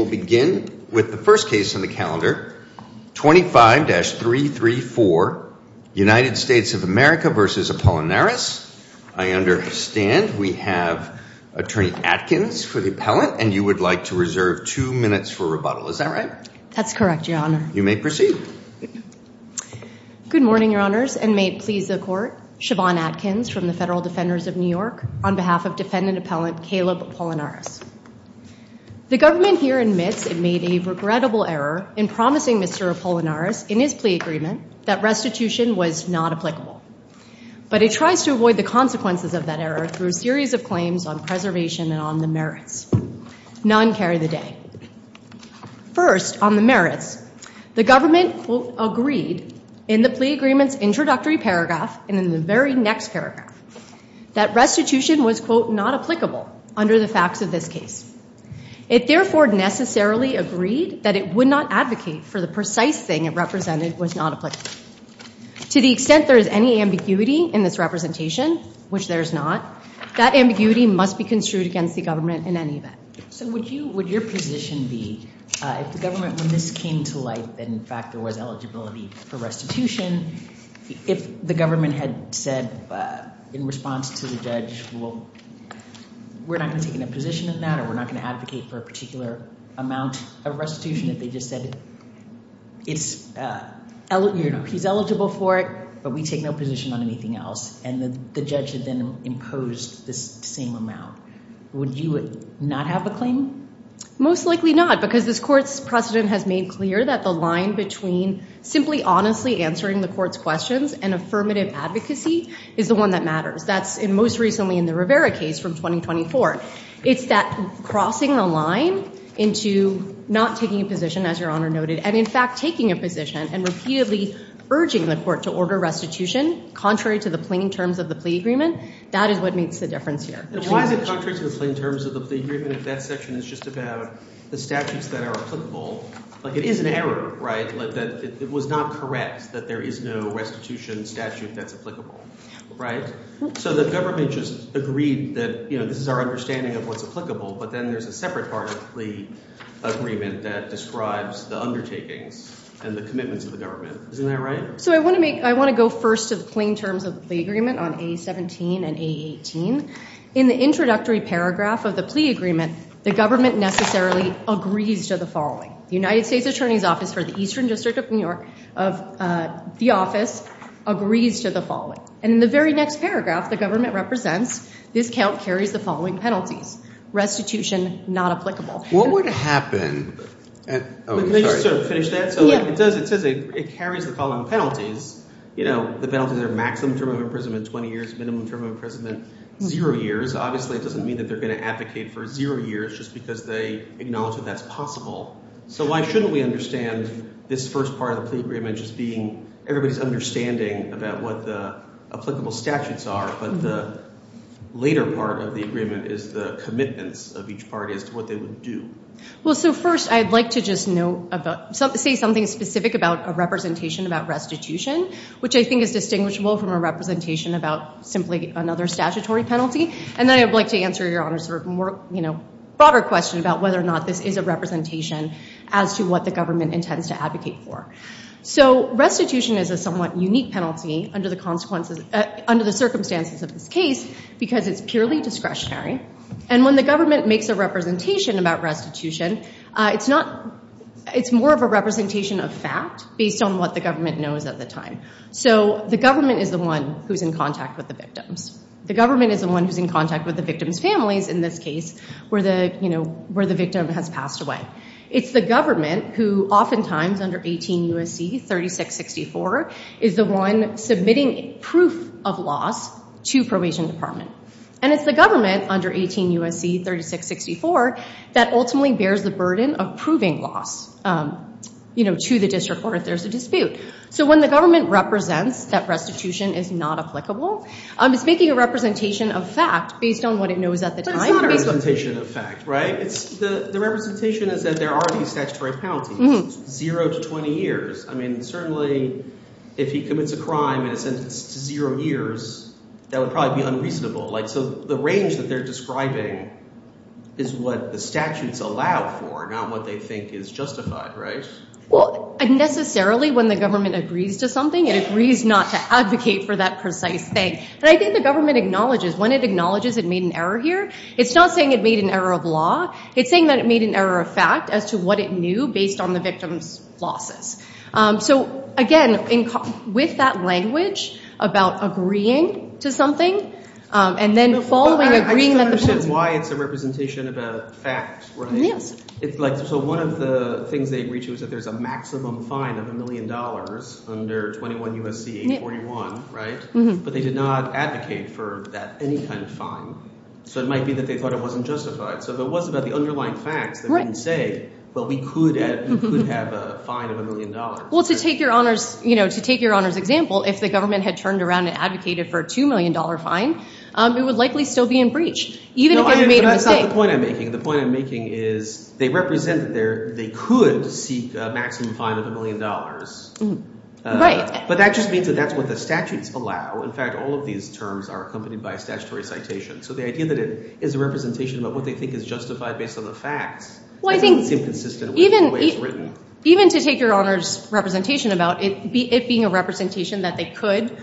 will begin with the first case on the calendar, 25-334, United States of America v. Apolinaris. I understand we have Attorney Atkins for the appellant, and you would like to reserve two minutes for rebuttal. Is that right? That's correct, Your Honor. You may proceed. Good morning, Your Honors, and may it please the Court. Siobhan Atkins from the Federal Defenders of New York on behalf of Defendant Appellant Caleb Apolinaris. The government here admits it made a regrettable error in promising Mr. Apolinaris in his plea agreement that restitution was not applicable. But it tries to avoid the consequences of that error through a series of claims on preservation and on the merits. None carry the day. First on the merits, the government, quote, agreed in the plea agreement's introductory paragraph and in the very next paragraph that restitution was, quote, not applicable under the facts of this case. It therefore necessarily agreed that it would not advocate for the precise thing it represented was not applicable. To the extent there is any ambiguity in this representation, which there is not, that ambiguity must be construed against the government in any event. So would you, would your position be if the government, when this came to light, that in fact there was eligibility for restitution, if the government had said in response to the judge, well, we're not going to take any position in that or we're not going to advocate for a particular amount of restitution if they just said it's, you know, he's eligible for it, but we take no position on anything else, and the judge had then imposed this same amount. Would you not have a claim? Most likely not, because this court's precedent has made clear that the line between simply honestly answering the court's questions and affirmative advocacy is the one that matters. That's most recently in the Rivera case from 2024. It's that crossing the line into not taking a position, as your Honor noted, and in fact taking a position and repeatedly urging the court to order restitution contrary to the plain terms of the plea agreement, that is what makes the difference here. Why is it contrary to the plain terms of the plea agreement if that section is just about the statutes that are applicable? Like, it is an error, right, that it was not correct, that there is no restitution statute that's applicable, right? So the government just agreed that, you know, this is our understanding of what's applicable, but then there's a separate part of the plea agreement that describes the undertakings and the commitments of the government. Isn't that right? So I want to make, I want to go first to the plain terms of the agreement on A-17 and A-18. In the introductory paragraph of the plea agreement, the government necessarily agrees to the following. The United States Attorney's Office for the Eastern District of New York, of the office, agrees to the following. And in the very next paragraph, the government represents this count carries the following penalties. Restitution not applicable. What would happen? Let me just sort of finish that. So it does, it says it carries the following penalties. You know, the penalties are maximum term of imprisonment 20 years, minimum term of imprisonment zero years. Obviously, it doesn't mean that they're going to advocate for zero years just because they acknowledge that that's possible. So why shouldn't we understand this first part of the plea agreement just being everybody's understanding about what the applicable statutes are, but the later part of the agreement is the commitments of each party as to what they would do. Well, so first I'd like to just know about, say something specific about a representation about restitution, which I think is distinguishable from a representation about simply another statutory penalty. And then I would like to answer Your Honor's broader question about whether or not this is a representation as to what the government intends to advocate for. So restitution is a somewhat unique penalty under the circumstances of this case because it's purely discretionary. And when the government makes a representation about restitution, it's more of a representation of fact based on what the government knows at the time. So the government is the one who's in contact with the victim's families in this case where the victim has passed away. It's the government who oftentimes under 18 U.S.C. 3664 is the one submitting proof of loss to probation department. And it's the government under 18 U.S.C. 3664 that ultimately bears the burden of proving loss to the district court if there's a dispute. So when the government represents that restitution is not applicable, it's making a representation of fact based on what it knows at the time. But it's not a representation of fact, right? The representation is that there are these statutory penalties, zero to 20 years. I mean, certainly if he commits a crime in a sentence to zero years, that would probably be unreasonable. So the range that they're describing is what the statutes allow for, not what they think is justified, right? Well, necessarily when the government agrees to something, it agrees not to advocate for that precise thing. And I think the government acknowledges, when it acknowledges it made an error here, it's not saying it made an error of law. It's saying that it made an error of fact as to what it knew based on the victim's losses. So again, with that language about agreeing to something and then following agreeing that the point is- But I still don't understand why it's a representation about facts, right? Yes. So one of the things they agreed to is that there's a maximum fine of a million dollars under 21 U.S.C. 841, right? But they did not advocate for that, any kind of fine. So it might be that they thought it wasn't justified. So if it was about the underlying facts, they wouldn't say, well, we could have a fine of a million dollars. Well, to take your Honor's example, if the government had turned around and advocated for a $2 million fine, it would likely still be in breach, even if it had made a mistake. That's not the point I'm making. The point I'm making is they represent that they could seek a maximum fine of a million dollars. Right. But that just means that that's what the statutes allow. In fact, all of these terms are accompanied by a statutory citation. So the idea that it is a representation about what they think is justified based on the facts doesn't seem consistent with the way it's Even to take your Honor's representation about it being a representation that they could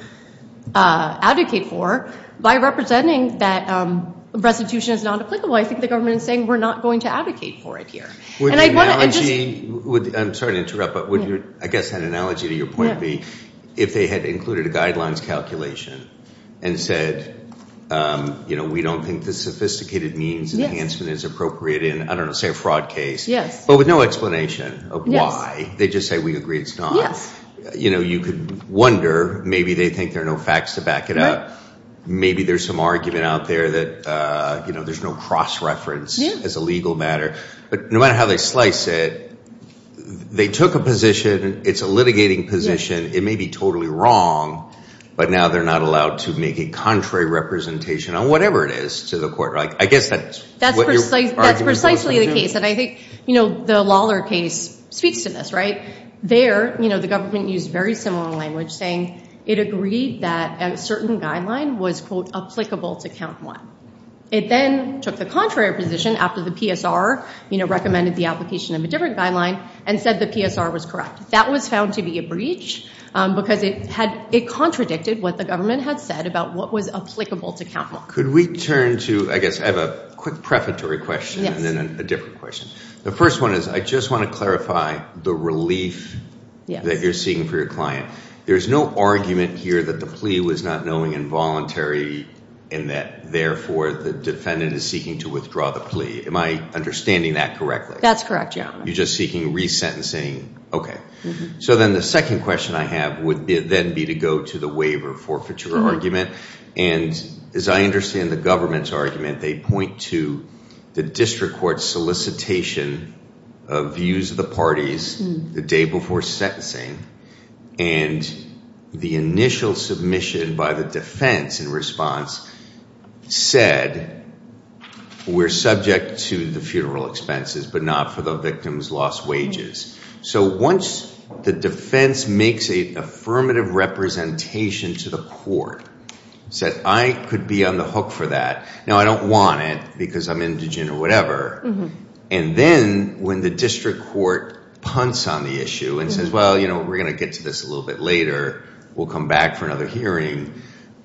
advocate for, by representing that restitution is not applicable, I think the government is saying we're not going to advocate for it here. I'm sorry to interrupt, but I guess an analogy to your point would be if they had included a guidelines calculation and said, you know, we don't think the sophisticated means enhancement is appropriate in, I don't know, say a fraud case. Yes. But with no explanation of why, they just say we agree it's not. Yes. You know, you could wonder, maybe they think there are no facts to back it up. Maybe there's some argument out there that, you know, there's no cross-reference as a legal matter. But no matter how they slice it, they took a position, it's a litigating position. It may be totally wrong, but now they're not allowed to make a contrary representation on whatever it is to the court. I guess that's what you're arguing for. That's precisely the case. And I think, you know, the Lawler case speaks to this, right? There, you know, the government used very similar language saying it agreed that a certain guideline was, quote, applicable to count one. It then took the contrary position after the PSR, you know, recommended the application of a different guideline and said the PSR was correct. That was found to be a breach because it had, it contradicted what the government had said about what was applicable to count one. Could we turn to, I guess, I have a quick prefatory question and then a different question. The first one is I just want to clarify the relief that you're seeking for your client. There's no argument here that the plea was not knowing involuntary and that therefore the defendant is seeking to withdraw the plea. Am I understanding that correctly? That's correct, yeah. You're just seeking resentencing? Okay. So then the second question I have would then be to go to the waiver forfeiture argument. And as I understand the government's argument, they point to the district court solicitation of views of the parties the day before sentencing and the initial submission by the defense in response said we're subject to the funeral expenses but not for the victim's lost wages. So once the defense makes an affirmative representation to the court, said I could be on the hook for that. Now, I don't want it because I'm indigent or whatever. And then when the district court punts on the issue and says, well, you know, we're going to get to this a little bit later. We'll come back for another hearing.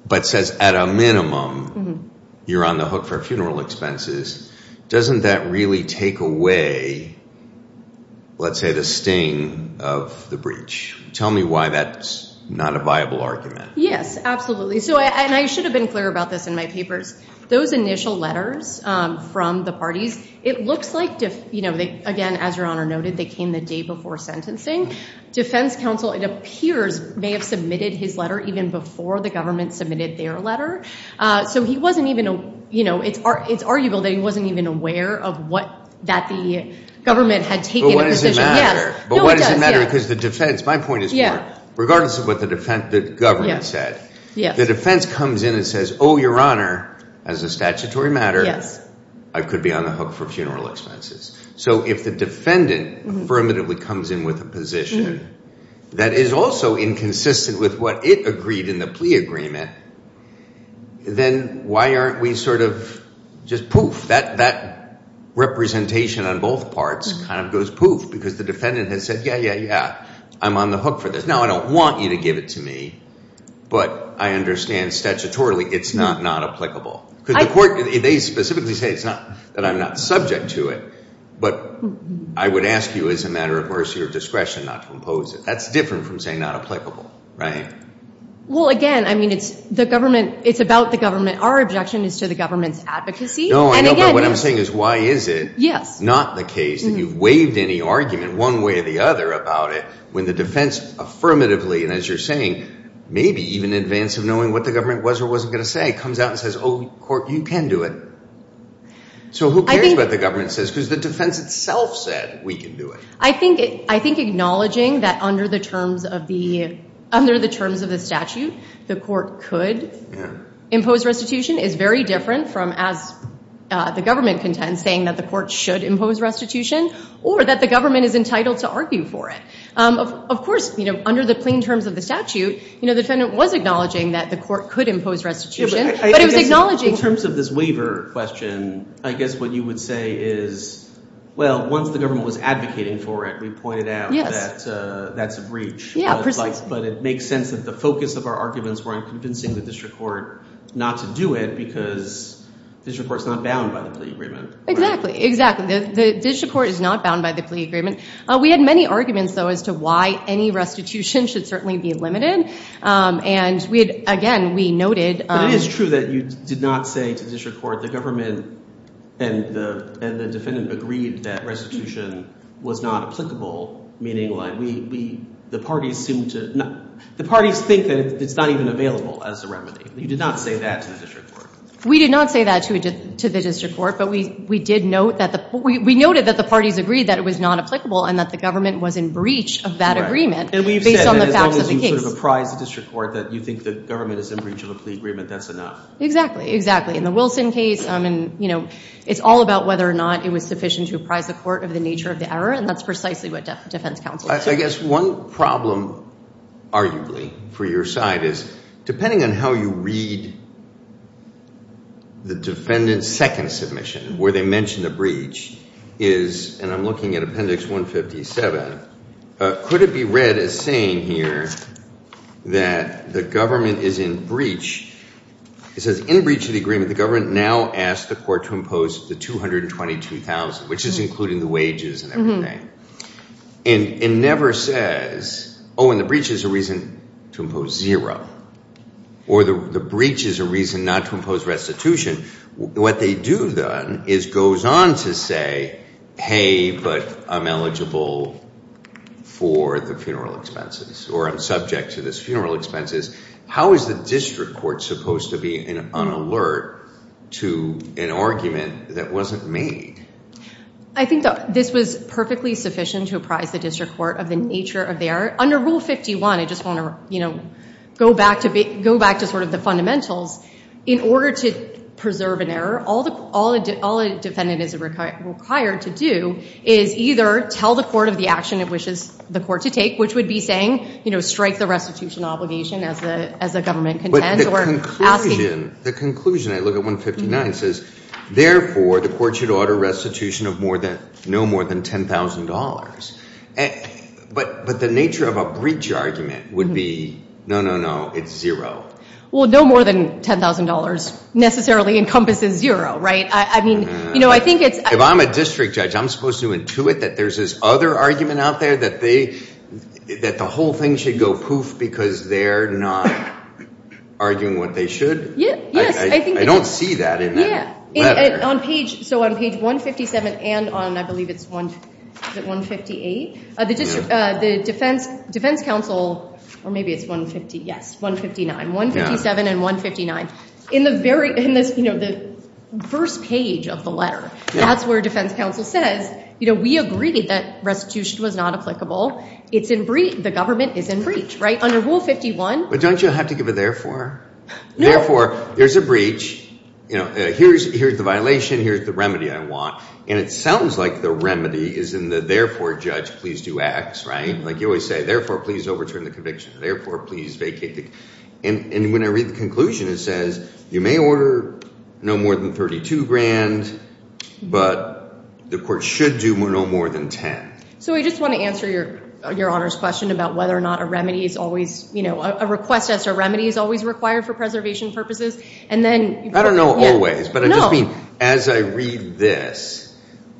But says at a minimum, you're on the hook for funeral expenses. Doesn't that really take away, let's say, the sting of the breach? Tell me why that's not a viable argument. Yes, absolutely. So and I should have been clear about this in my papers. Those initial letters from the parties, it looks like, again, as Your Honor noted, they came the day before sentencing. Defense counsel, it appears, may have submitted his letter even before the government submitted their letter. So he wasn't even, you know, it's arguable that he wasn't even aware of what that the government had taken into consideration. But what does it matter? Because the defense, my point is, regardless of what the government said, the defense comes in and says, oh, Your Honor, as a statutory matter, I could be on the hook for funeral expenses. So if the defendant affirmatively comes in with a position that is also inconsistent with what it agreed in the plea agreement, then why aren't we sort of just poof? That representation on both parts kind of goes poof because the defendant has said, yeah, yeah, yeah, I'm on the hook for this. Now, I don't want you to give it to me. But I understand statutorily it's not not applicable. Because the court, they specifically say it's not that I'm not subject to it. But I would ask you as a matter of mercy or discretion not to impose it. That's different from saying not applicable, right? Well, again, I mean, it's the government. It's about the government. Our objection is to the government's advocacy. No, I know. But what I'm saying is, why is it not the case that you've waived any argument one way or the other about it when the defense affirmatively, and as you're saying, maybe even in advance of knowing what the government was or wasn't going to say, comes out and says, oh, court, you can do it? So who cares what the government says? Because the defense itself said we can do it. I think acknowledging that under the terms of the statute, the court could impose restitution is very different from, as the government contends, saying that the court should impose restitution or that the government is entitled to argue for it. Of course, under the plain terms of the statute, the defendant was acknowledging that the court could impose restitution. But it was acknowledging. In terms of this waiver question, I guess what you would say is, well, once the government was advocating for it, we pointed out that that's a breach. But it makes sense that the focus of our arguments were on convincing the district court not to do it because the district court's not bound by the plea agreement. Exactly. Exactly. The district court is not bound by the plea agreement. We had many arguments, though, as to why any restitution should certainly be limited. And again, we noted. But it is true that you did not say to the district court, the government and the defendant agreed that restitution was not applicable, meaning the parties seem to not. The parties think that it's not even available as a remedy. You did not say that to the district court. We did not say that to the district court. But we did note that we noted that the parties agreed that it was not applicable and that the government was in breach of that agreement based on the facts of the case. And we've said that as long as you sort of apprise the district court that you think the government is in breach of a plea agreement, that's enough. Exactly. Exactly. In the Wilson case, it's all about whether or not it was sufficient to apprise the court of the nature of the error. And that's precisely what defense counsel said. I guess one problem, arguably, for your side is, depending on how you read the defendant's second submission, where they mention the breach, is, and I'm looking at Appendix 157, could it be read as saying here that the government is in breach. It says, in breach of the agreement, the government now asked the court to impose the $222,000, which is including the wages and everything. And it never says, oh, and the breach is a reason to impose zero. Or the breach is a reason not to impose restitution. What they do then is goes on to say, hey, but I'm eligible for the funeral expenses. Or I'm subject to this funeral expenses. How is the district court supposed to be in an alert to an argument that wasn't made? I think that this was perfectly sufficient to apprise the district court of the nature of the error. Under Rule 51, I just want to go back to sort of the fundamentals. In order to preserve an error, all a defendant is required to do is either tell the court of the action it wishes the court to take, which would be saying, strike the restitution obligation as a government content. The conclusion I look at 159 says, therefore, the court should order restitution of no more than $10,000. But the nature of a breach argument would be, no, no, no, it's zero. Well, no more than $10,000 necessarily encompasses zero, right? If I'm a district judge, I'm supposed to intuit that there's this other argument out there that the whole thing should go poof because they're not arguing what they should? I don't see that in that letter. So on page 157 and on, I believe it's 158, the defense counsel, or maybe it's 150. Yes, 159. 157 and 159. In the first page of the letter, that's where defense counsel says, we agreed that restitution was not applicable. It's in breach. The government is in breach, right? Under Rule 51. But don't you have to give a therefore? Therefore, there's a breach. Here's the violation. Here's the remedy I want. And it sounds like the remedy is in the therefore, judge, please do X, right? Like you always say, therefore, please overturn the conviction. Therefore, please vacate the case. And when I read the conclusion, it says, you may order no more than $32,000, but the court should do no more than $10,000. So I just want to answer your Honor's question about whether or not a remedy is always, you know, a request as a remedy is always required for preservation purposes. And then, I don't know, always. But I just mean, as I read this,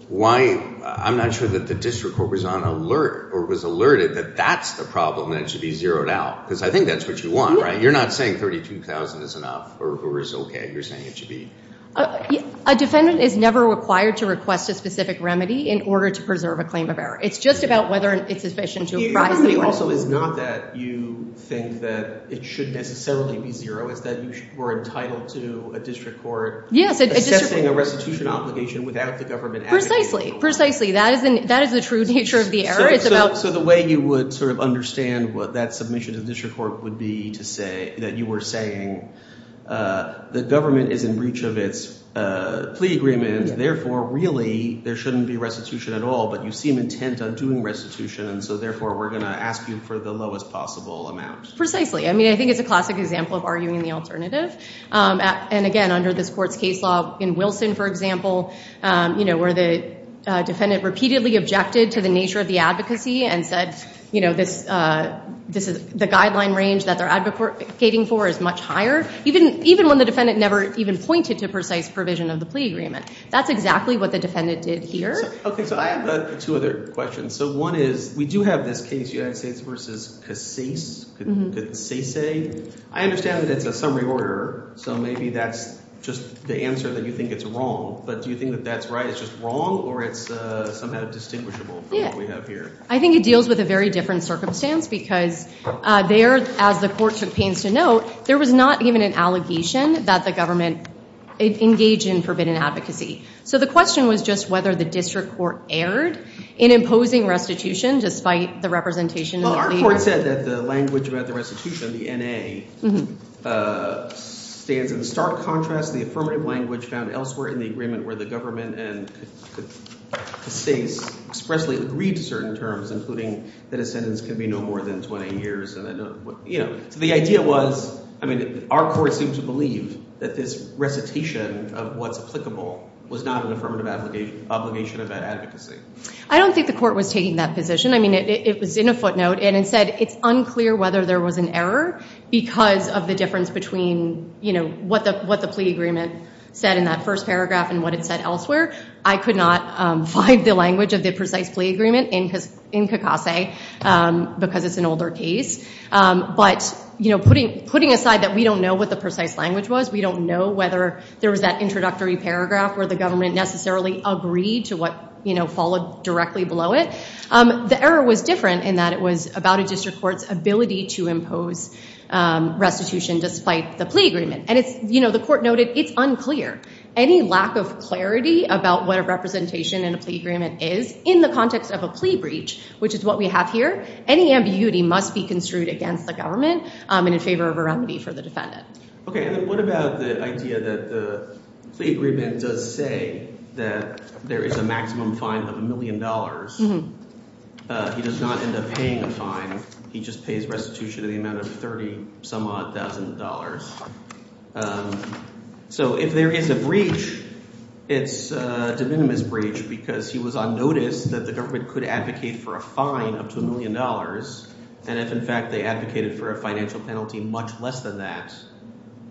I'm not sure that the district court was on alert or was alerted that that's the problem that should be zeroed out. Because I think that's what you want, right? You're not saying $32,000 is enough or is OK. You're saying it should be. A defendant is never required to request a specific remedy in order to preserve a claim of error. It's just about whether it's sufficient to apprise the court. The remedy also is not that you think that it should necessarily be zero. It's that you were entitled to a district court assessing a restitution obligation without the government advocating for it. Precisely. Precisely. That is the true nature of the error. It's about. So the way you would sort of understand what that submission to the district court would be to say that you were saying the government is in breach of its plea agreement. Therefore, really, there shouldn't be restitution at all. But you seem intent on doing restitution. And so therefore, we're going to ask you for the lowest possible amount. Precisely. I mean, I think it's a classic example of arguing the alternative. And again, under this court's case law in Wilson, for example, where the defendant repeatedly objected to the nature of the advocacy and said the guideline range that they're advocating for is much higher, even when the defendant never even pointed to precise provision of the plea agreement. That's exactly what the defendant did here. OK. So I have two other questions. So one is, we do have this case, United States versus Casase. I understand that it's a summary order. So maybe that's just the answer that you think it's wrong. But do you think that that's right? It's just wrong? Or it's somehow distinguishable from what we have here? I think it deals with a very different circumstance. Because there, as the court took pains to note, there was not even an allegation that the government engaged in forbidden advocacy. So the question was just whether the district court erred in imposing restitution, despite the representation of the plea agreement. Well, our court said that the language about the restitution, the NA, stands in stark contrast to the affirmative language found elsewhere in the agreement where the government and Casase expressly agreed to certain terms, including that a sentence can be no more than 20 years. So the idea was, our court seemed to believe that this recitation of what's applicable was not an affirmative obligation about advocacy. I don't think the court was taking that position. I mean, it was in a footnote. And it said, it's unclear whether there was an error because of the difference between what the plea agreement said in that first paragraph and what it said elsewhere. I could not find the language of the precise plea agreement in Casase, because it's an older case. But putting aside that we don't know what the precise language was, we don't know whether there was that introductory paragraph where the government necessarily agreed to what followed directly below it, the error was different in that it was about a district court's ability to impose restitution despite the plea agreement. And the court noted, it's unclear. Any lack of clarity about what a representation in a plea agreement is in the context of a plea agreement that we have here, any ambiguity must be construed against the government and in favor of a remedy for the defendant. OK, and what about the idea that the plea agreement does say that there is a maximum fine of $1 million. He does not end up paying a fine. He just pays restitution in the amount of $30 some odd thousand dollars. So if there is a breach, it's a de minimis breach because he was on notice that the government could advocate for a fine up to $1 million. And if, in fact, they advocated for a financial penalty much less than that,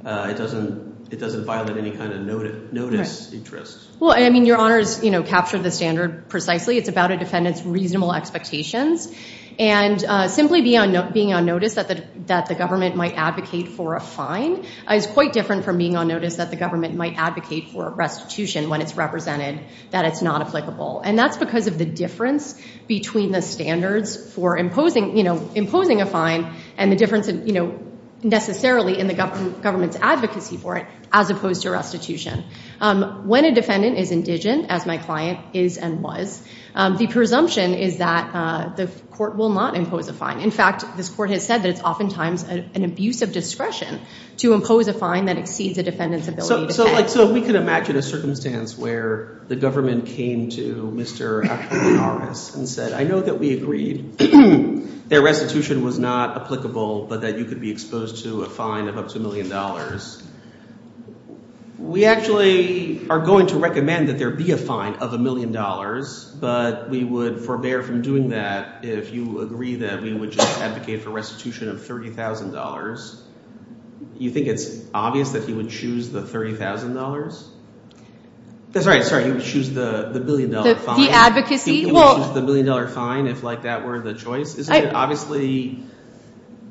it doesn't violate any kind of notice interest. Well, I mean, your honors captured the standard precisely. It's about a defendant's reasonable expectations. And simply being on notice that the government might advocate for a fine is quite different from being on notice that the government might advocate for a restitution when it's represented that it's not applicable. And that's because of the difference between the standards for imposing a fine and the difference necessarily in the government's advocacy for it as opposed to restitution. When a defendant is indigent, as my client is and was, the presumption is that the court will not impose a fine. In fact, this court has said that it's oftentimes an abuse of discretion to impose a fine that exceeds a defendant's ability to pay. So if we could imagine a circumstance where the government came to Mr. Aquinas and said, I know that we agreed that restitution was not applicable, but that you could be exposed to a fine of up to $1 million. We actually are going to recommend that there be a fine of $1 million. But we would forbear from doing that if you agree that we would just advocate for restitution of $30,000. You think it's obvious that he would choose the $30,000? That's right. Sorry, he would choose the $1 million fine. The advocacy? He would choose the $1 million fine if that were the choice. Isn't it obviously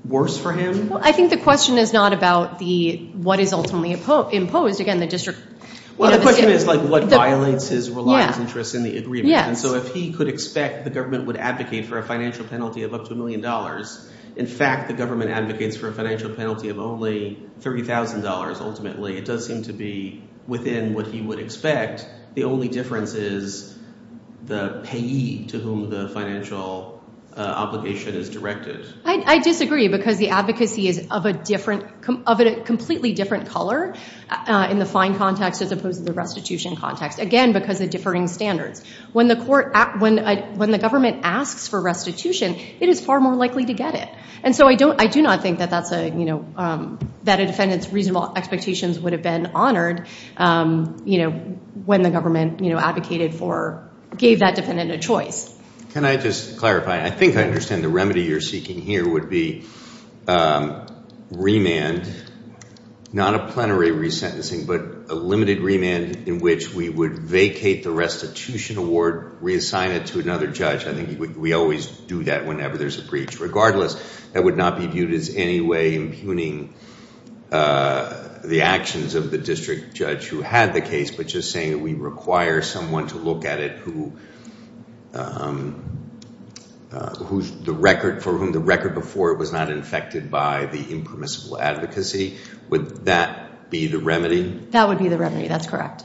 worse for him? I think the question is not about what is ultimately imposed. Again, the district. Well, the question is what violates his reliance interests in the agreement. And so if he could expect the government would advocate for a financial penalty of up to $1 million, in fact, the government advocates for a financial penalty of only $30,000 ultimately. It does seem to be within what he would expect. The only difference is the payee to whom the financial obligation is directed. I disagree because the advocacy is of a completely different color in the fine context as opposed to the restitution context. Again, because of differing standards. When the government asks for restitution, it is far more likely to get it. And so I do not think that a defendant's reasonable expectations would have been honored when the government advocated for, gave that defendant a choice. Can I just clarify? I think I understand the remedy you're seeking here would be remand, not a plenary resentencing, but a limited remand in which we would vacate the restitution award, reassign it to another judge. I think we always do that whenever there's a breach. Regardless, that would not be viewed as any way impugning the actions of the district judge who had the case, but just saying we require someone to look at it for whom the record before it was not infected by the impermissible advocacy. Would that be the remedy? That would be the remedy. That's correct.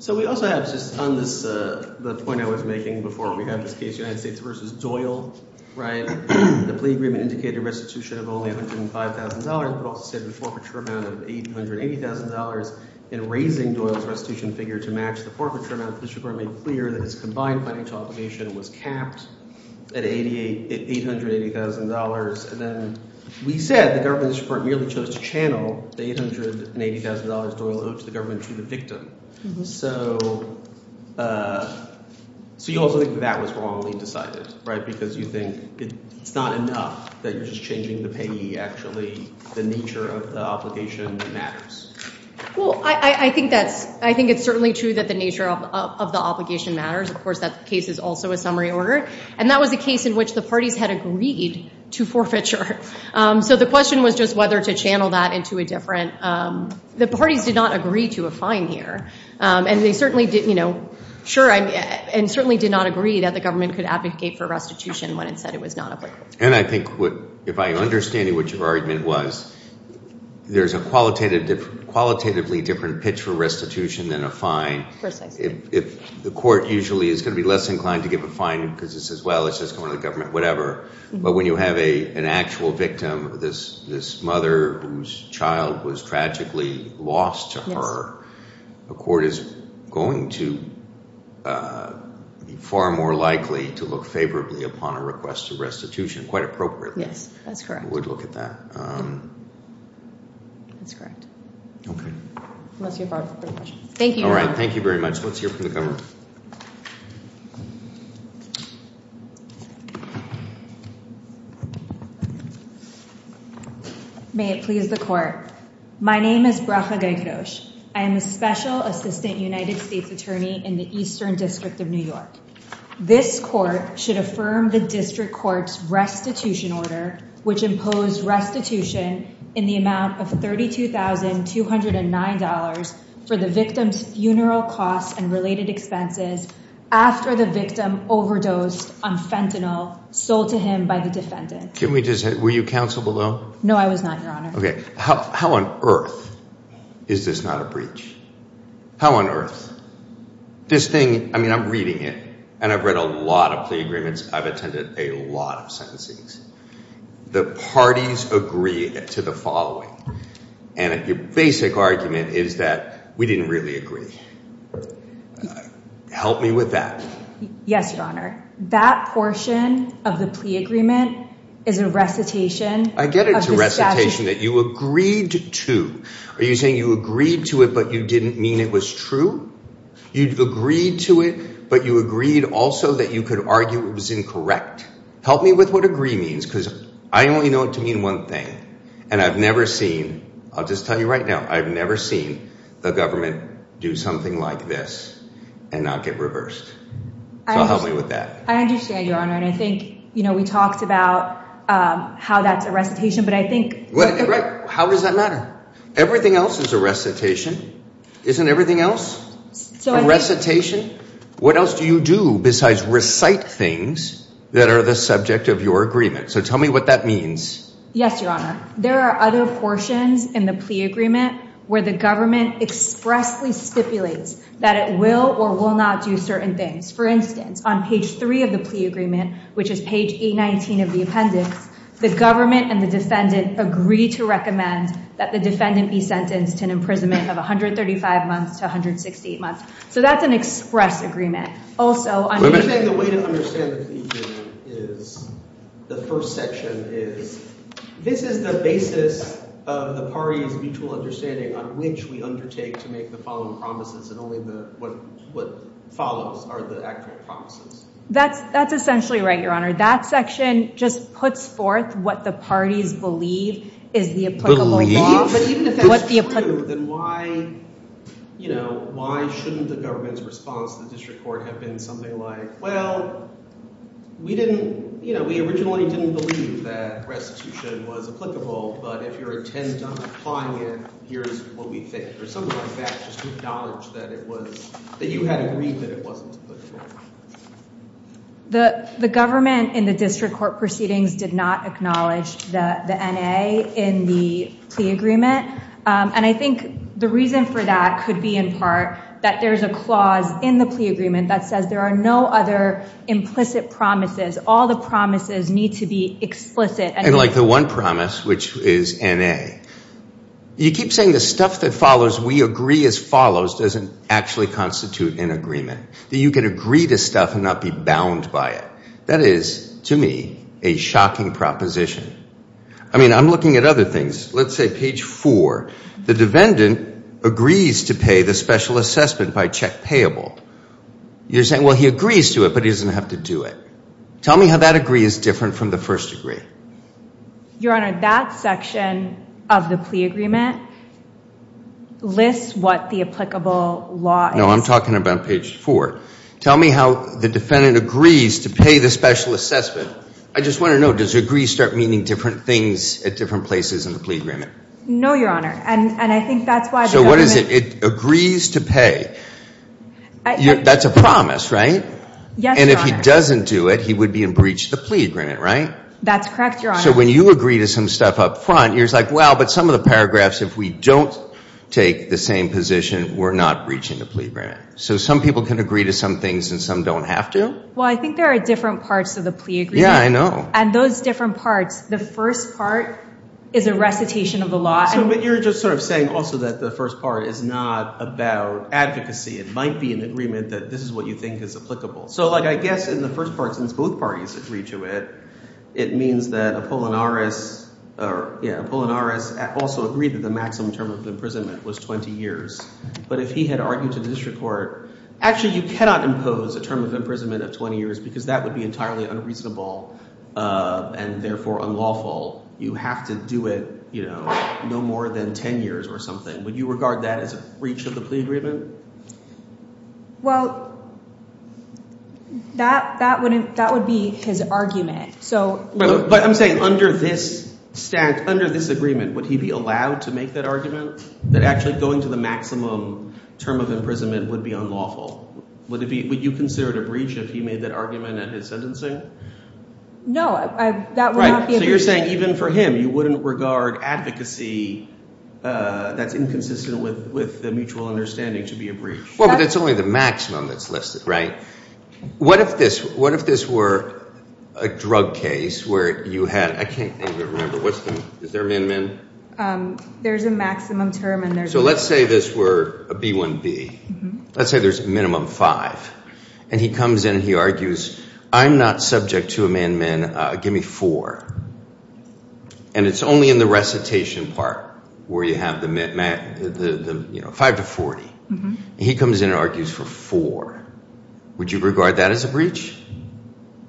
So we also have just on this, the point I was making before we got this case, United States versus Doyle, right? The plea agreement indicated restitution of only $105,000, but also said the forfeiture amount of $880,000 in raising Doyle's restitution figure to match the forfeiture amount. The district court made clear that his combined financial obligation was capped at $880,000. And then we said the government district court merely chose to channel the $880,000 Doyle owed to the government to the victim. So you also think that was wrongly decided, right? Because you think it's not enough that you're just changing the payee, actually. The nature of the obligation matters. Well, I think it's certainly true that the nature of the obligation matters. Of course, that case is also a summary order. And that was a case in which the parties had agreed to forfeiture. So the question was just whether to channel that into a different... The parties did not agree to a fine here. And certainly did not agree that the government could advocate for restitution when it said it was not applicable. And I think if I understand what your argument was, there's a qualitatively different pitch for restitution than a fine. If the court usually is going to be less inclined to give a fine because it says, well, it's just going to the government, whatever. But when you have an actual victim, this mother whose child was tragically lost to her, the court is going to be far more likely to look favorably upon a request for restitution, quite appropriately. Yes, that's correct. We would look at that. That's correct. Okay. Unless you have other questions. Thank you. Thank you very much. Let's hear from the government. May it please the court. My name is Bracha Gaikadosh. I am a special assistant United States attorney in the Eastern District of New York. This court should affirm the district court's restitution order, which imposed restitution in the amount of $32,209 for the victim's funeral costs and related expenses after the victim overdosed on fentanyl sold to him by the defendant. Were you counsel below? No, I was not, Your Honor. Okay. How on earth is this not a breach? How on earth? This thing, I mean, I'm reading it and I've read a lot of plea agreements. I've attended a lot of sentencings. The parties agree to the following. And your basic argument is that we didn't really agree. Help me with that. Yes, Your Honor. That portion of the plea agreement is a recitation. I get it. It's a recitation that you agreed to. Are you saying you agreed to it, but you didn't mean it was true? You agreed to it, but you agreed also that you could argue it was incorrect. Help me with what agree means, because I only know it to mean one thing. And I've never seen, I'll just tell you right now, I've never seen the government do something like this and not get reversed. So help me with that. I understand, Your Honor. And I think we talked about how that's a recitation, but I think- How does that matter? Everything else is a recitation. Isn't everything else a recitation? What else do you do besides recite things that are the subject of your agreement? So tell me what that means. Yes, Your Honor. There are other portions in the plea agreement where the government expressly stipulates that it will or will not do certain things. For instance, on page three of the plea agreement, which is page 819 of the appendix, the government and the defendant agree to recommend that the defendant be sentenced to an imprisonment of 135 months to 168 months. So that's an express agreement. Also, on page- The way to understand the plea agreement is, the first section is, this is the basis of the parties' mutual understanding on which we undertake to make the following promises, and only what follows are the actual promises. That's essentially right, Your Honor. That section just puts forth what the parties believe is the applicable law. If that's true, then why shouldn't the government's response to the district court have been something like, well, we originally didn't believe that restitution was applicable, but if you're intent on applying it, here's what we think. Or something like that, just to acknowledge that you had agreed that it wasn't applicable. The government in the district court proceedings did not acknowledge the N.A. in the plea agreement, and I think the reason for that could be, in part, that there's a clause in the plea agreement that says there are no other implicit promises. All the promises need to be explicit. And like the one promise, which is N.A., you keep saying the stuff that follows, we agree as follows, doesn't actually constitute an agreement, that you can agree to stuff and not be bound by it. That is, to me, a shocking proposition. I mean, I'm looking at other things. Let's say page four, the defendant agrees to pay the special assessment by check payable. You're saying, well, he agrees to it, but he doesn't have to do it. Tell me how that agree is different from the first agree. Your Honor, that section of the plea agreement lists what the applicable law is. No, I'm talking about page four. Tell me how the defendant agrees to pay the special assessment. I just want to know, does agree start meaning different things at different places in the plea agreement? No, Your Honor, and I think that's why the government... So what is it? It agrees to pay. That's a promise, right? Yes, Your Honor. And if he doesn't do it, he would be in breach of the plea agreement, right? That's correct, Your Honor. So when you agree to some stuff up front, you're like, well, but some of the paragraphs, if we don't take the same position, we're not breaching the plea agreement. So some people can agree to some things and some don't have to? Well, I think there are different parts of the plea agreement. Yeah, I know. And those different parts, the first part is a recitation of the law. So but you're just sort of saying also that the first part is not about advocacy. It might be an agreement that this is what you think is applicable. So I guess in the first part, since both parties agree to it, it means that Apollinaris also agreed that the maximum term of imprisonment was 20 years. But if he had argued to the district court, actually, you cannot impose a term of imprisonment of 20 years, because that would be entirely unreasonable and therefore unlawful. You have to do it no more than 10 years or something. Would you regard that as a breach of the plea agreement? Well, that would be his argument. So look. But I'm saying under this agreement, would he be allowed to make that argument? That actually going to the maximum term of imprisonment would be unlawful. Would you consider it a breach if he made that argument at his sentencing? No, that would not be a breach. So you're saying even for him, you wouldn't regard advocacy that's inconsistent with the mutual understanding to be a breach. Well, but that's only the maximum that's listed, right? What if this were a drug case where you had, I can't even remember. Is there a min-min? There's a maximum term and there's- So let's say this were a B1B. Let's say there's a minimum five. And he comes in and he argues, I'm not subject to a min-min. Give me four. And it's only in the recitation part where you have the five to 40. He comes in and argues for four. Would you regard that as a breach?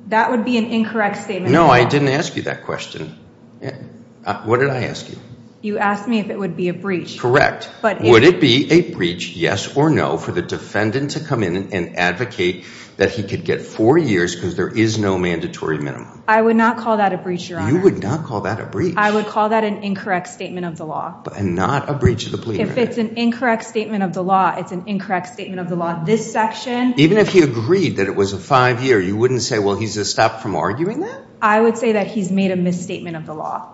That would be an incorrect statement. No, I didn't ask you that question. Yeah, what did I ask you? You asked me if it would be a breach. But would it be a breach, yes or no, for the defendant to come in and advocate that he could get four years because there is no mandatory minimum? I would not call that a breach, Your Honor. You would not call that a breach. I would call that an incorrect statement of the law. And not a breach of the plea agreement. If it's an incorrect statement of the law, it's an incorrect statement of the law. This section- Even if he agreed that it was a five-year, you wouldn't say, well, he's stopped from arguing that? I would say that he's made a misstatement of the law.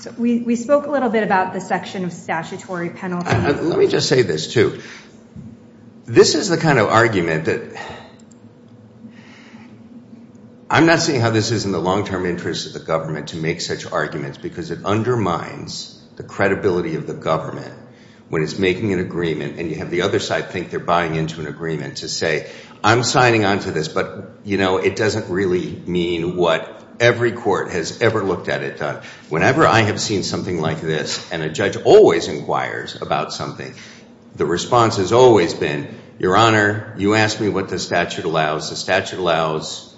So we spoke a little bit about the section of statutory penalty. Let me just say this, too. This is the kind of argument that- I'm not seeing how this is in the long-term interest of the government to make such arguments because it undermines the credibility of the government when it's making an agreement and you have the other side think they're buying into an agreement to say, I'm signing on to this, but it doesn't really mean what every court has ever looked at it. Whenever I have seen something like this and a judge always inquires about something, the response has always been, Your Honor, you asked me what the statute allows. The statute allows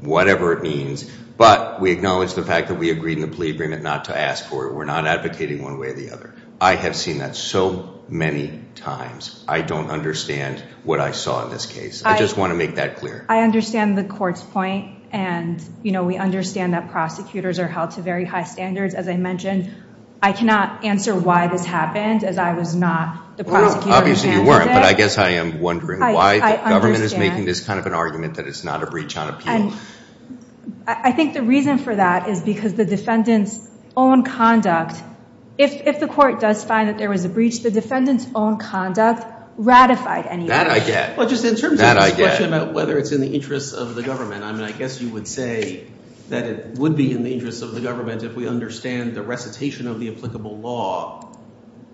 whatever it means. But we acknowledge the fact that we agreed in the plea agreement not to ask for it. We're not advocating one way or the other. I have seen that so many times. I don't understand what I saw in this case. I just want to make that clear. I understand the court's point. And we understand that prosecutors are held to very high standards. As I mentioned, I cannot answer why this happened as I was not the prosecutor. Obviously, you weren't. But I guess I am wondering why the government is making this kind of an argument that it's not a breach on appeal. I think the reason for that is because the defendant's own conduct- If the court does find that there was a breach, the defendant's own conduct ratified anyway. That I get. Well, just in terms of this question about whether it's in the interest of the government, I mean, I guess you would say that it would be in the interest of the government if we understand the recitation of the applicable law,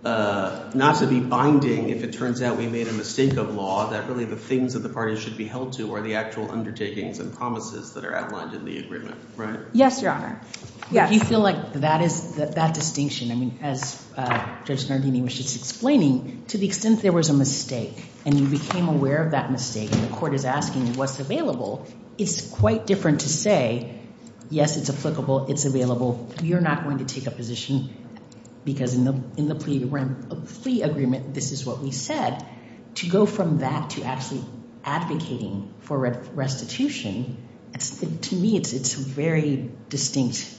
not to be binding if it turns out we made a mistake of law, that really the things that the parties should be held to are the actual undertakings and promises that are outlined in the agreement, right? Yes, Your Honor. Yes. You feel like that distinction, I mean, as Judge Nardini was just explaining, to the extent there was a mistake and you became aware of that mistake and the court is asking what's available, it's quite different to say, yes, it's applicable, it's available, you're not going to take a position because in the plea agreement, this is what we said. To go from that to actually advocating for restitution, to me, it's a very distinct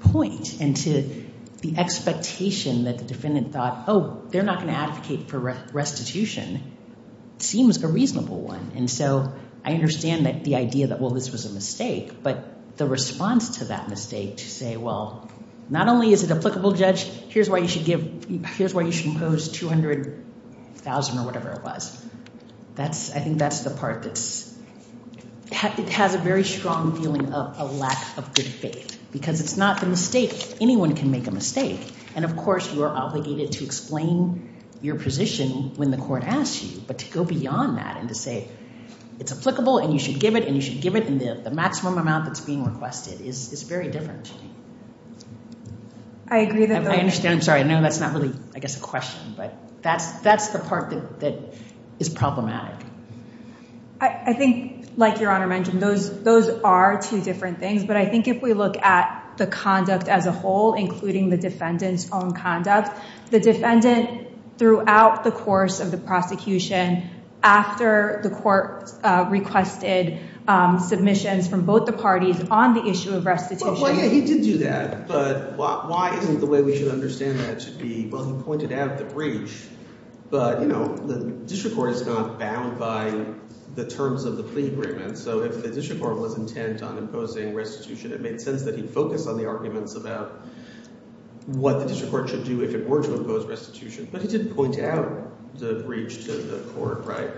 point and to the expectation that the defendant thought, oh, they're not going to advocate for restitution, seems a reasonable one. And so I understand that the idea that, well, this was a mistake, but the response to that mistake to say, well, not only is it applicable, Judge, here's why you should impose $200,000 or whatever it was, I think that's the part that's, it has a very strong feeling of a lack of good faith because it's not the mistake, anyone can make a mistake. And of course, you are obligated to explain your position when the court asks you, but to go beyond that and to say it's applicable and you should give it and you should give it and the maximum amount that's being requested is very different. I agree that the- I understand. I'm sorry. I know that's not really, I guess, a question, but that's the part that is problematic. I think, like Your Honor mentioned, those are two different things, but I think if we look at the conduct as a whole, including the defendant's own conduct, the defendant throughout the course of the prosecution, after the court requested submissions from both the parties on the issue of restitution- Well, yeah, he did do that, but why isn't the way we should understand that to be, well, he pointed out the breach, but the district court is not bound by the terms of the plea agreement. So if the district court was intent on imposing restitution, it made sense that he'd focus on the arguments about what the district court should do if it were to impose restitution, but he didn't point out the breach to the court, right?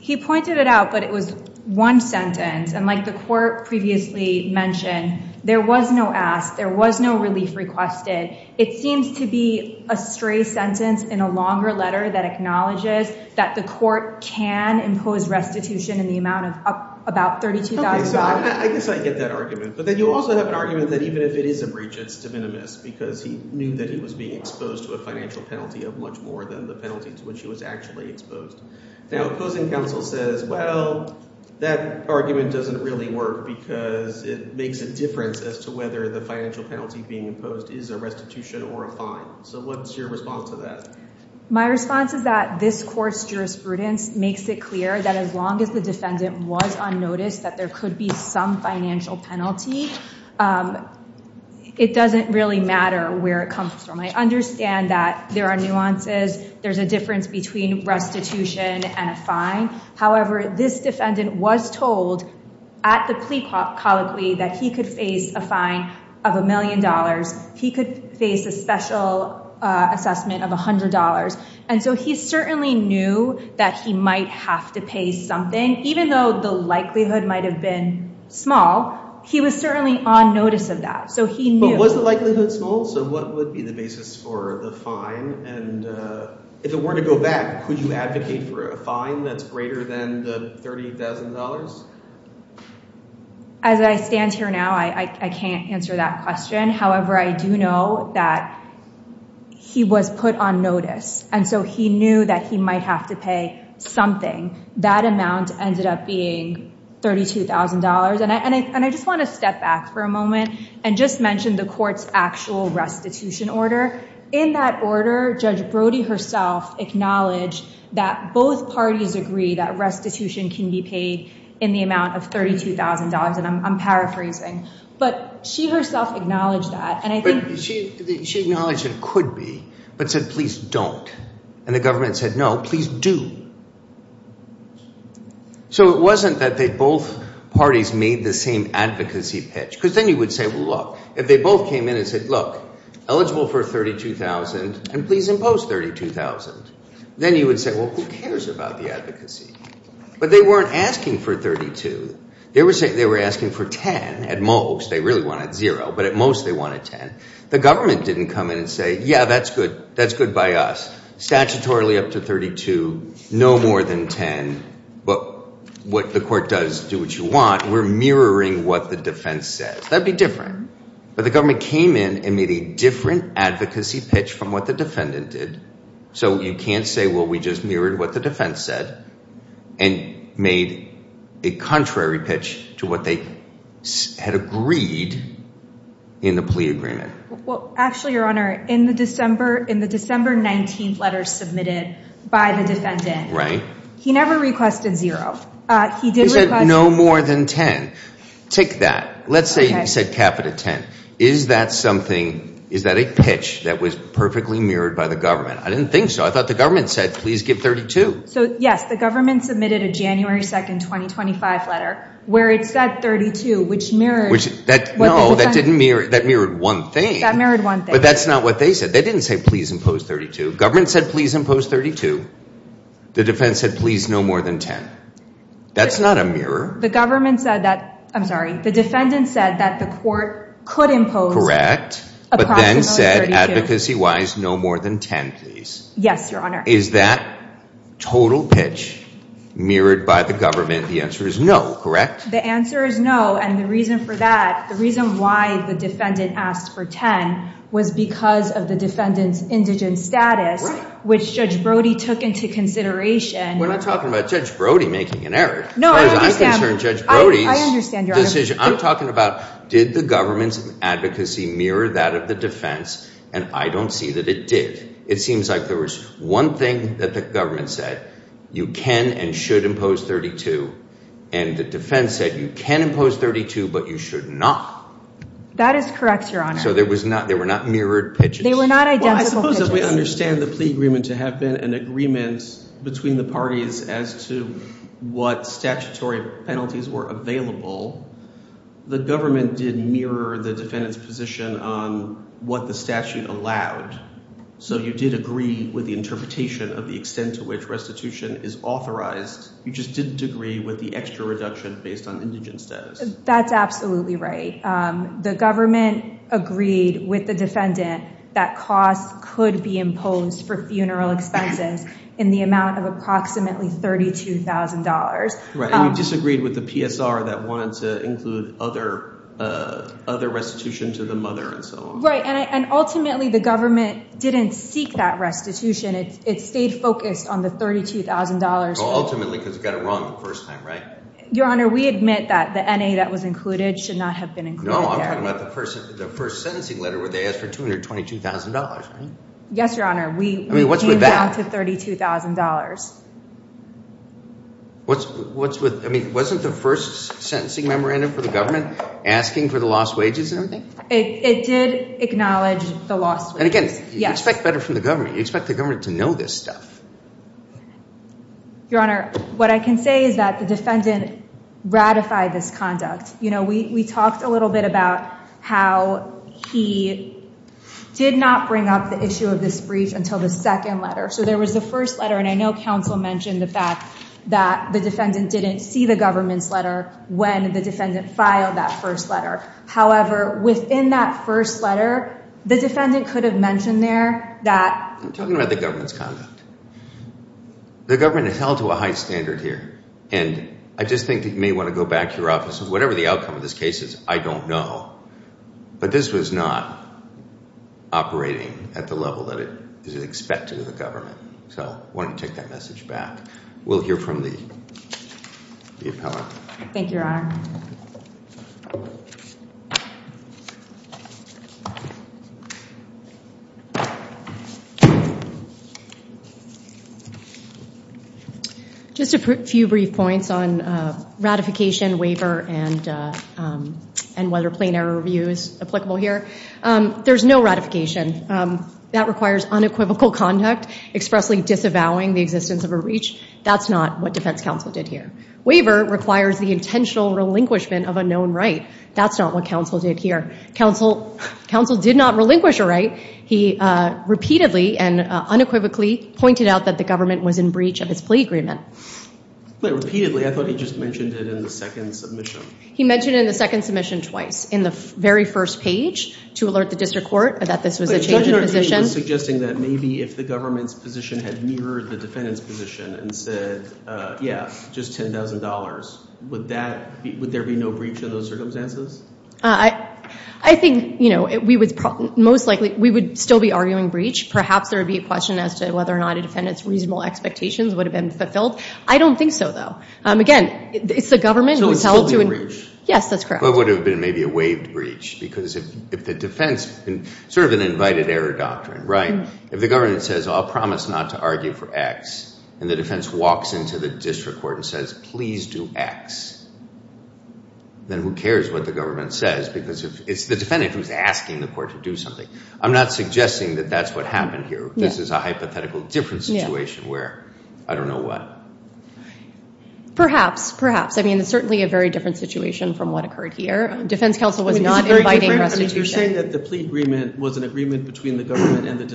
He pointed it out, but it was one sentence. And like the court previously mentioned, there was no ask, there was no relief requested. It seems to be a stray sentence in a longer letter that acknowledges that the court can impose restitution in the amount of about $32,000. Okay, so I guess I get that argument, but then you also have an argument that even if it is a breach, it's de minimis because he knew that he was being exposed to a financial penalty of much more than the penalty to which he was actually exposed. Now, opposing counsel says, well, that argument doesn't really work because it makes a difference as to whether the financial penalty being imposed is a restitution or a fine. So what's your response to that? My response is that this court's jurisprudence makes it clear that as long as the defendant was on notice that there could be some financial penalty, it doesn't really matter where it comes from. I understand that there are nuances, there's a difference between restitution and a fine. However, this defendant was told at the plea colloquy that he could face a fine of a million dollars. He could face a special assessment of $100. And so he certainly knew that he might have to pay something, even though the likelihood might have been small, he was certainly on notice of that. But was the likelihood small? So what would be the basis for the fine? And if it were to go back, could you advocate for a fine that's greater than the $30,000? As I stand here now, I can't answer that question. However, I do know that he was put on notice. And so he knew that he might have to pay something. That amount ended up being $32,000. And I just want to step back for a moment and just mention the court's actual restitution order. In that order, Judge Brody herself acknowledged that both parties agree that restitution can be paid in the amount of $32,000. And I'm paraphrasing. But she herself acknowledged that. But she acknowledged it could be, but said, please don't. And the government said, no, please do. So it wasn't that both parties made the same advocacy pitch. Because then you would say, well, look, if they both came in and said, look, eligible for $32,000, and please impose $32,000, then you would say, well, who cares about the advocacy? But they weren't asking for $32,000. They were asking for $10,000 at most. They really wanted $0,000. But at most, they wanted $10,000. The government didn't come in and say, yeah, that's good. That's good by us. Statutorily, up to $32,000, no more than $10,000. But what the court does, do what you want. We're mirroring what the defense says. That'd be different. But the government came in and made a different advocacy pitch from what the defendant did. So you can't say, well, we just mirrored what the defense said and made a contrary pitch to what they had agreed in the plea agreement. Well, actually, Your Honor, in the December 19th letters submitted by the defendant, he never requested $0. He did request $0. No more than $10,000. Take that. Let's say he said capital 10. Is that something, is that a pitch that was perfectly mirrored by the government? I didn't think so. I thought the government said, please give $32,000. So yes, the government submitted a January 2nd, 2025 letter where it said $32,000, which mirrored. Which, no, that mirrored one thing. That mirrored one thing. But that's not what they said. They didn't say, please impose $32,000. Government said, please impose $32,000. The defense said, please no more than $10,000. That's not a mirror. The government said that, I'm sorry. The defendant said that the court could impose approximately $32,000. But then said, advocacy-wise, no more than $10,000, please. Yes, Your Honor. Is that total pitch mirrored by the government? The answer is no, correct? The answer is no. And the reason for that, the reason why the defendant asked for $10,000 was because of the defendant's indigent status, which Judge Brody took into consideration. We're not talking about Judge Brody making an error. No, I understand. I understand, Your Honor. I'm talking about, did the government's advocacy mirror that of the defense? And I don't see that it did. It seems like there was one thing that the government said, you can and should impose $32,000. And the defense said, you can impose $32,000, but you should not. That is correct, Your Honor. So there were not mirrored pitches? They were not identical pitches. Well, I suppose that we understand the plea agreement to have been an agreement between the parties as to what statutory penalties were available. The government did mirror the defendant's position on what the statute allowed. So you did agree with the interpretation of the extent to which restitution is authorized. You just didn't agree with the extra reduction based on indigent status. That's absolutely right. The government agreed with the defendant that costs could be imposed for funeral expenses in the amount of approximately $32,000. Right. And you disagreed with the PSR that wanted to include other restitution to the mother and so on. Right. And ultimately, the government didn't seek that restitution. It stayed focused on the $32,000. Ultimately, because it got it wrong the first time, right? Your Honor, we admit that the NA that was included should not have been included. No, I'm talking about the first sentencing letter where they asked for $222,000, right? Yes, Your Honor. We came down to $32,000. I mean, wasn't the first sentencing memorandum for the government asking for the lost wages and everything? It did acknowledge the lost wages. And again, you expect better from the government. You expect the government to know this stuff. Your Honor, what I can say is that the defendant ratified this conduct. You know, we talked a little bit about how he did not bring up the issue of this brief until the second letter. So there was the first letter. And I know counsel mentioned the fact that the defendant didn't see the government's letter when the defendant filed that first letter. However, within that first letter, the defendant could have mentioned there that- I'm talking about the government's conduct. The government held to a high standard here. And I just think that you may want to go back to your offices. Whatever the outcome of this case is, I don't know. But this was not operating at the level that it is expected of the government. So I want to take that message back. We'll hear from the appellant. Thank you, Your Honor. Just a few brief points on ratification, waiver, and whether plain error review is applicable here. There's no ratification. That requires unequivocal conduct, expressly disavowing the existence of a reach. That's not what defense counsel did here. Waiver requires the intentional relinquishment of a known right. That's not what counsel did here. Counsel did not relinquish a right. He repeatedly and unequivocally pointed out that the government was in breach of his plea agreement. Repeatedly? I thought he just mentioned it in the second submission. He mentioned it in the second submission twice. In the very first page to alert the district court that this was a change in position. Suggesting that maybe if the government's position had mirrored the defendant's position and said, yeah, just $10,000, would there be no breach of those circumstances? I think, most likely, we would still be arguing breach. Perhaps there would be a question as to whether or not a defendant's reasonable expectations would have been fulfilled. I don't think so, though. Again, it's the government who tells you. So it would still be a breach? Yes, that's correct. But it would have been maybe a waived breach. Because if the defense, sort of an invited error doctrine, right? If the government says, I'll promise not to argue for x, and the defense walks into the district court and says, please do x, then who cares what the government says? Because it's the defendant who's asking the court to do something. I'm not suggesting that that's what happened here. This is a hypothetical different situation where I don't know what. Perhaps. Perhaps. I mean, it's certainly a very different situation from what occurred here. Defense counsel was not inviting restitution. You're saying that the plea agreement was an agreement between the government and the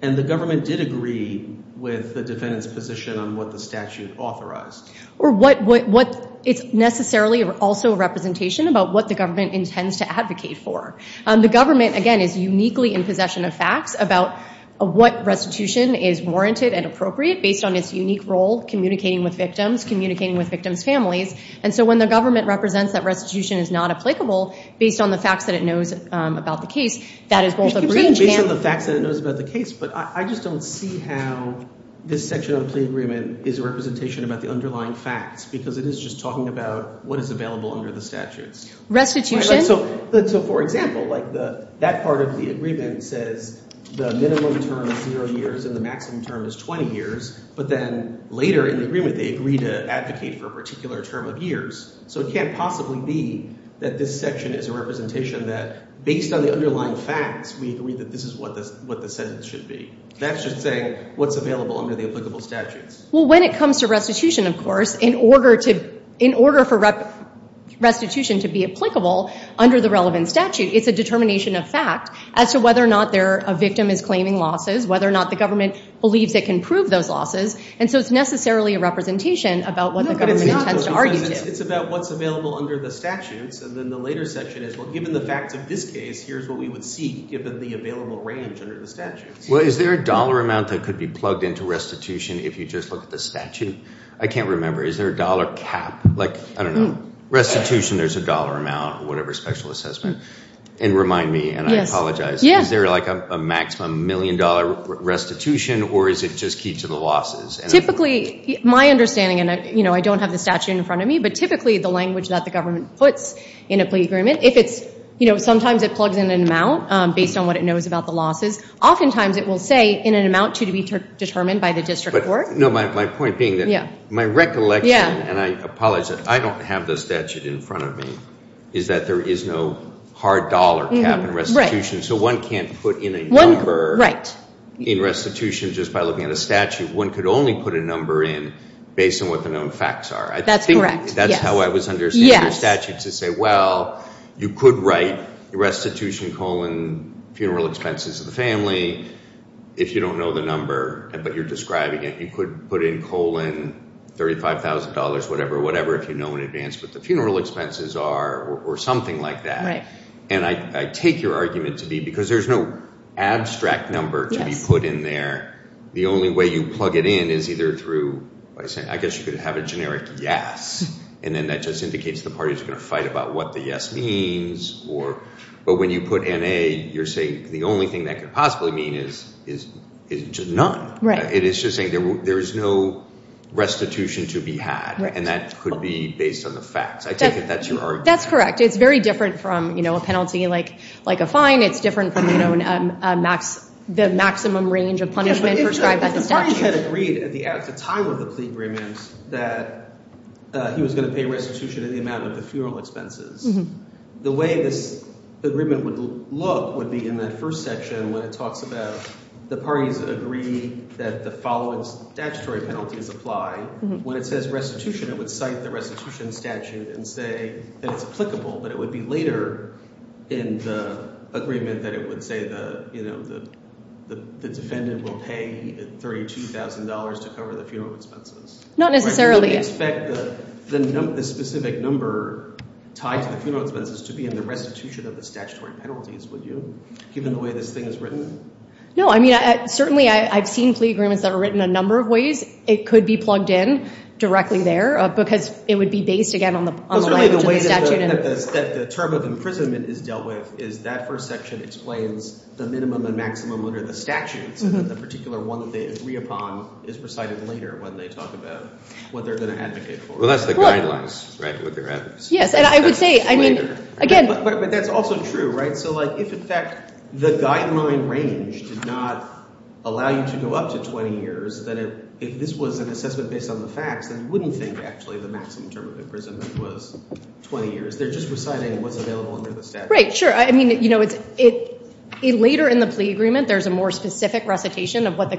And the government did agree with the defendant's position on what the statute authorized. Or what it's necessarily also a representation about what the government intends to advocate for. The government, again, is uniquely in possession of facts about what restitution is warranted and appropriate based on its unique role communicating with victims, communicating with victims' families. And so when the government represents that restitution is not applicable based on the facts that it knows about the case, that is multilingual. Based on the facts that it knows about the case. But I just don't see how this section of the plea agreement is a representation about the underlying facts because it is just talking about what is available under the statutes. Restitution. So for example, like that part of the agreement says the minimum term is zero years and the maximum term is 20 years. But then later in the agreement, they agree to advocate for a particular term of years. So it can't possibly be that this section is a representation that based on the underlying facts, we agree that this is what the sentence should be. That's just saying what's available under the applicable statutes. Well, when it comes to restitution, of course, in order for restitution to be applicable under the relevant statute, it's a determination of fact as to whether or not a victim is claiming losses, whether or not the government believes it can prove those losses. And so it's necessarily a representation about what the government intends to argue. It's about what's available under the statutes. And then the later section is, well, given the facts of this case, here's what we would see given the available range under the statutes. Well, is there a dollar amount that could be plugged into restitution if you just look at the statute? I can't remember. Is there a dollar cap? Like, I don't know. Restitution, there's a dollar amount or whatever special assessment. And remind me, and I apologize. Is there like a maximum million dollar restitution or is it just key to the losses? Typically, my understanding, and I don't have the statute in front of me, but typically the language that the government puts in a plea agreement, if it's, you know, sometimes it plugs in an amount based on what it knows about the losses. Oftentimes, it will say in an amount to be determined by the district court. No, my point being that my recollection, and I apologize, I don't have the statute in front of me, is that there is no hard dollar cap in restitution. So one can't put in a number in restitution just by looking at a statute. One could only put a number in based on what the known facts are. That's correct. That's how I was understanding the statute to say, well, you could write restitution colon funeral expenses of the family if you don't know the number, but you're describing it. You could put in colon $35,000, whatever, whatever, if you know in advance what the funeral expenses are or something like that. And I take your argument to be because there's no abstract number to be put in there. The only way you plug it in is either through, I guess you could have a generic yes, and then that just indicates the parties are going to fight about what the yes means. But when you put in a, you're saying the only thing that could possibly mean is just none. It is just saying there is no restitution to be had, and that could be based on the facts. I take it that's your argument. That's correct. It's very different from a penalty like a fine. It's different from the maximum range of punishment prescribed by the statute. The party had agreed at the time of the plea agreement that he was going to pay restitution in the amount of the funeral expenses. The way this agreement would look would be in that first section when it talks about the parties agree that the following statutory penalty is applied. When it says restitution, it would cite the restitution statute and say that it's applicable, but it would be later in the agreement that it would say that the defendant will pay $32,000 to cover the funeral expenses. Not necessarily. You would expect the specific number tied to the funeral expenses to be in the restitution of the statutory penalties, would you, given the way this thing is written? No. I mean, certainly I've seen plea agreements that are written a number of ways. It could be plugged in directly there because it would be based, again, on the statute. That the term of imprisonment is dealt with is that first section explains the minimum and maximum under the statute, so that the particular one that they agree upon is recited later when they talk about what they're going to advocate for. Well, that's the guidelines, right, what they're advocating. Yes, and I would say, I mean, again. But that's also true, right? So if, in fact, the guideline range did not allow you to go up to 20 years, then if this was an assessment based on the facts, then you wouldn't think, actually, the maximum term of imprisonment was 20 years. They're just reciting what's available under the statute. Right, sure. I mean, later in the plea agreement, there's a more specific recitation of what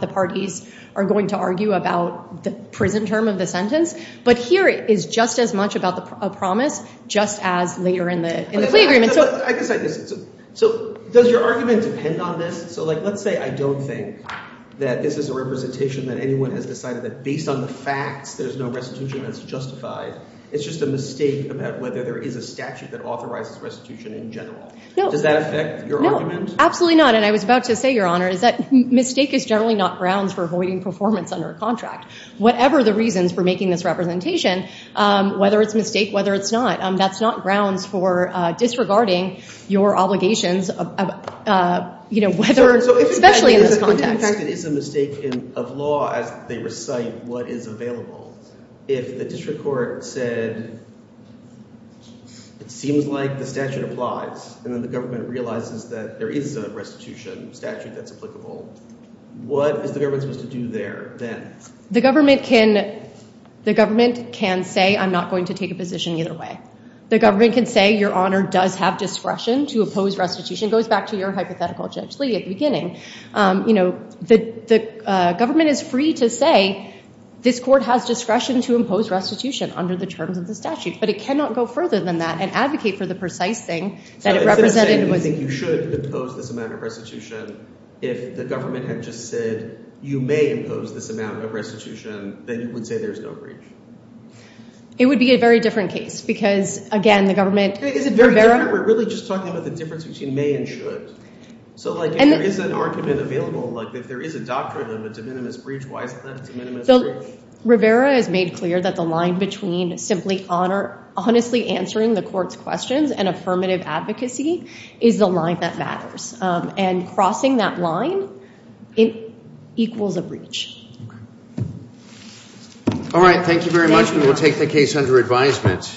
the parties are going to argue about the prison term of the sentence. But here, it is just as much about a promise just as later in the plea agreement. So does your argument depend on this? So let's say I don't think that this is a representation that anyone has decided that based on the facts, there's no restitution that's justified. It's just a mistake about whether there is a statute that authorizes restitution in general. Does that affect your argument? Absolutely not. And I was about to say, Your Honor, is that mistake is generally not grounds for avoiding performance under a contract. Whatever the reasons for making this representation, whether it's a mistake, whether it's not, that's not grounds for disregarding your obligations, especially in this context. It is a mistake of law as they recite what is available. If the district court said, it seems like the statute applies, and then the government realizes that there is a restitution statute that's applicable, what is the government supposed to do there then? The government can say, I'm not going to take a position either way. The government can say, Your Honor does have discretion to oppose restitution. It goes back to your hypothetical, Judge Lee, at the beginning. The government is free to say, this court has discretion to impose restitution under the terms of the statute. But it cannot go further than that and advocate for the precise thing that it represented. So instead of saying, you think you should impose this amount of restitution, if the government had just said, you may impose this amount of restitution, then you would say there's no breach? It would be a very different case. Because again, the government is very different. We're really just talking about the difference between may and should. So if there is an argument available, if there is a doctrine of a de minimis breach, why is that a de minimis breach? Rivera has made clear that the line between simply honestly answering the court's questions and affirmative advocacy is the line that matters. And crossing that line equals a breach. All right. Thank you very much. We will take the case under advisement.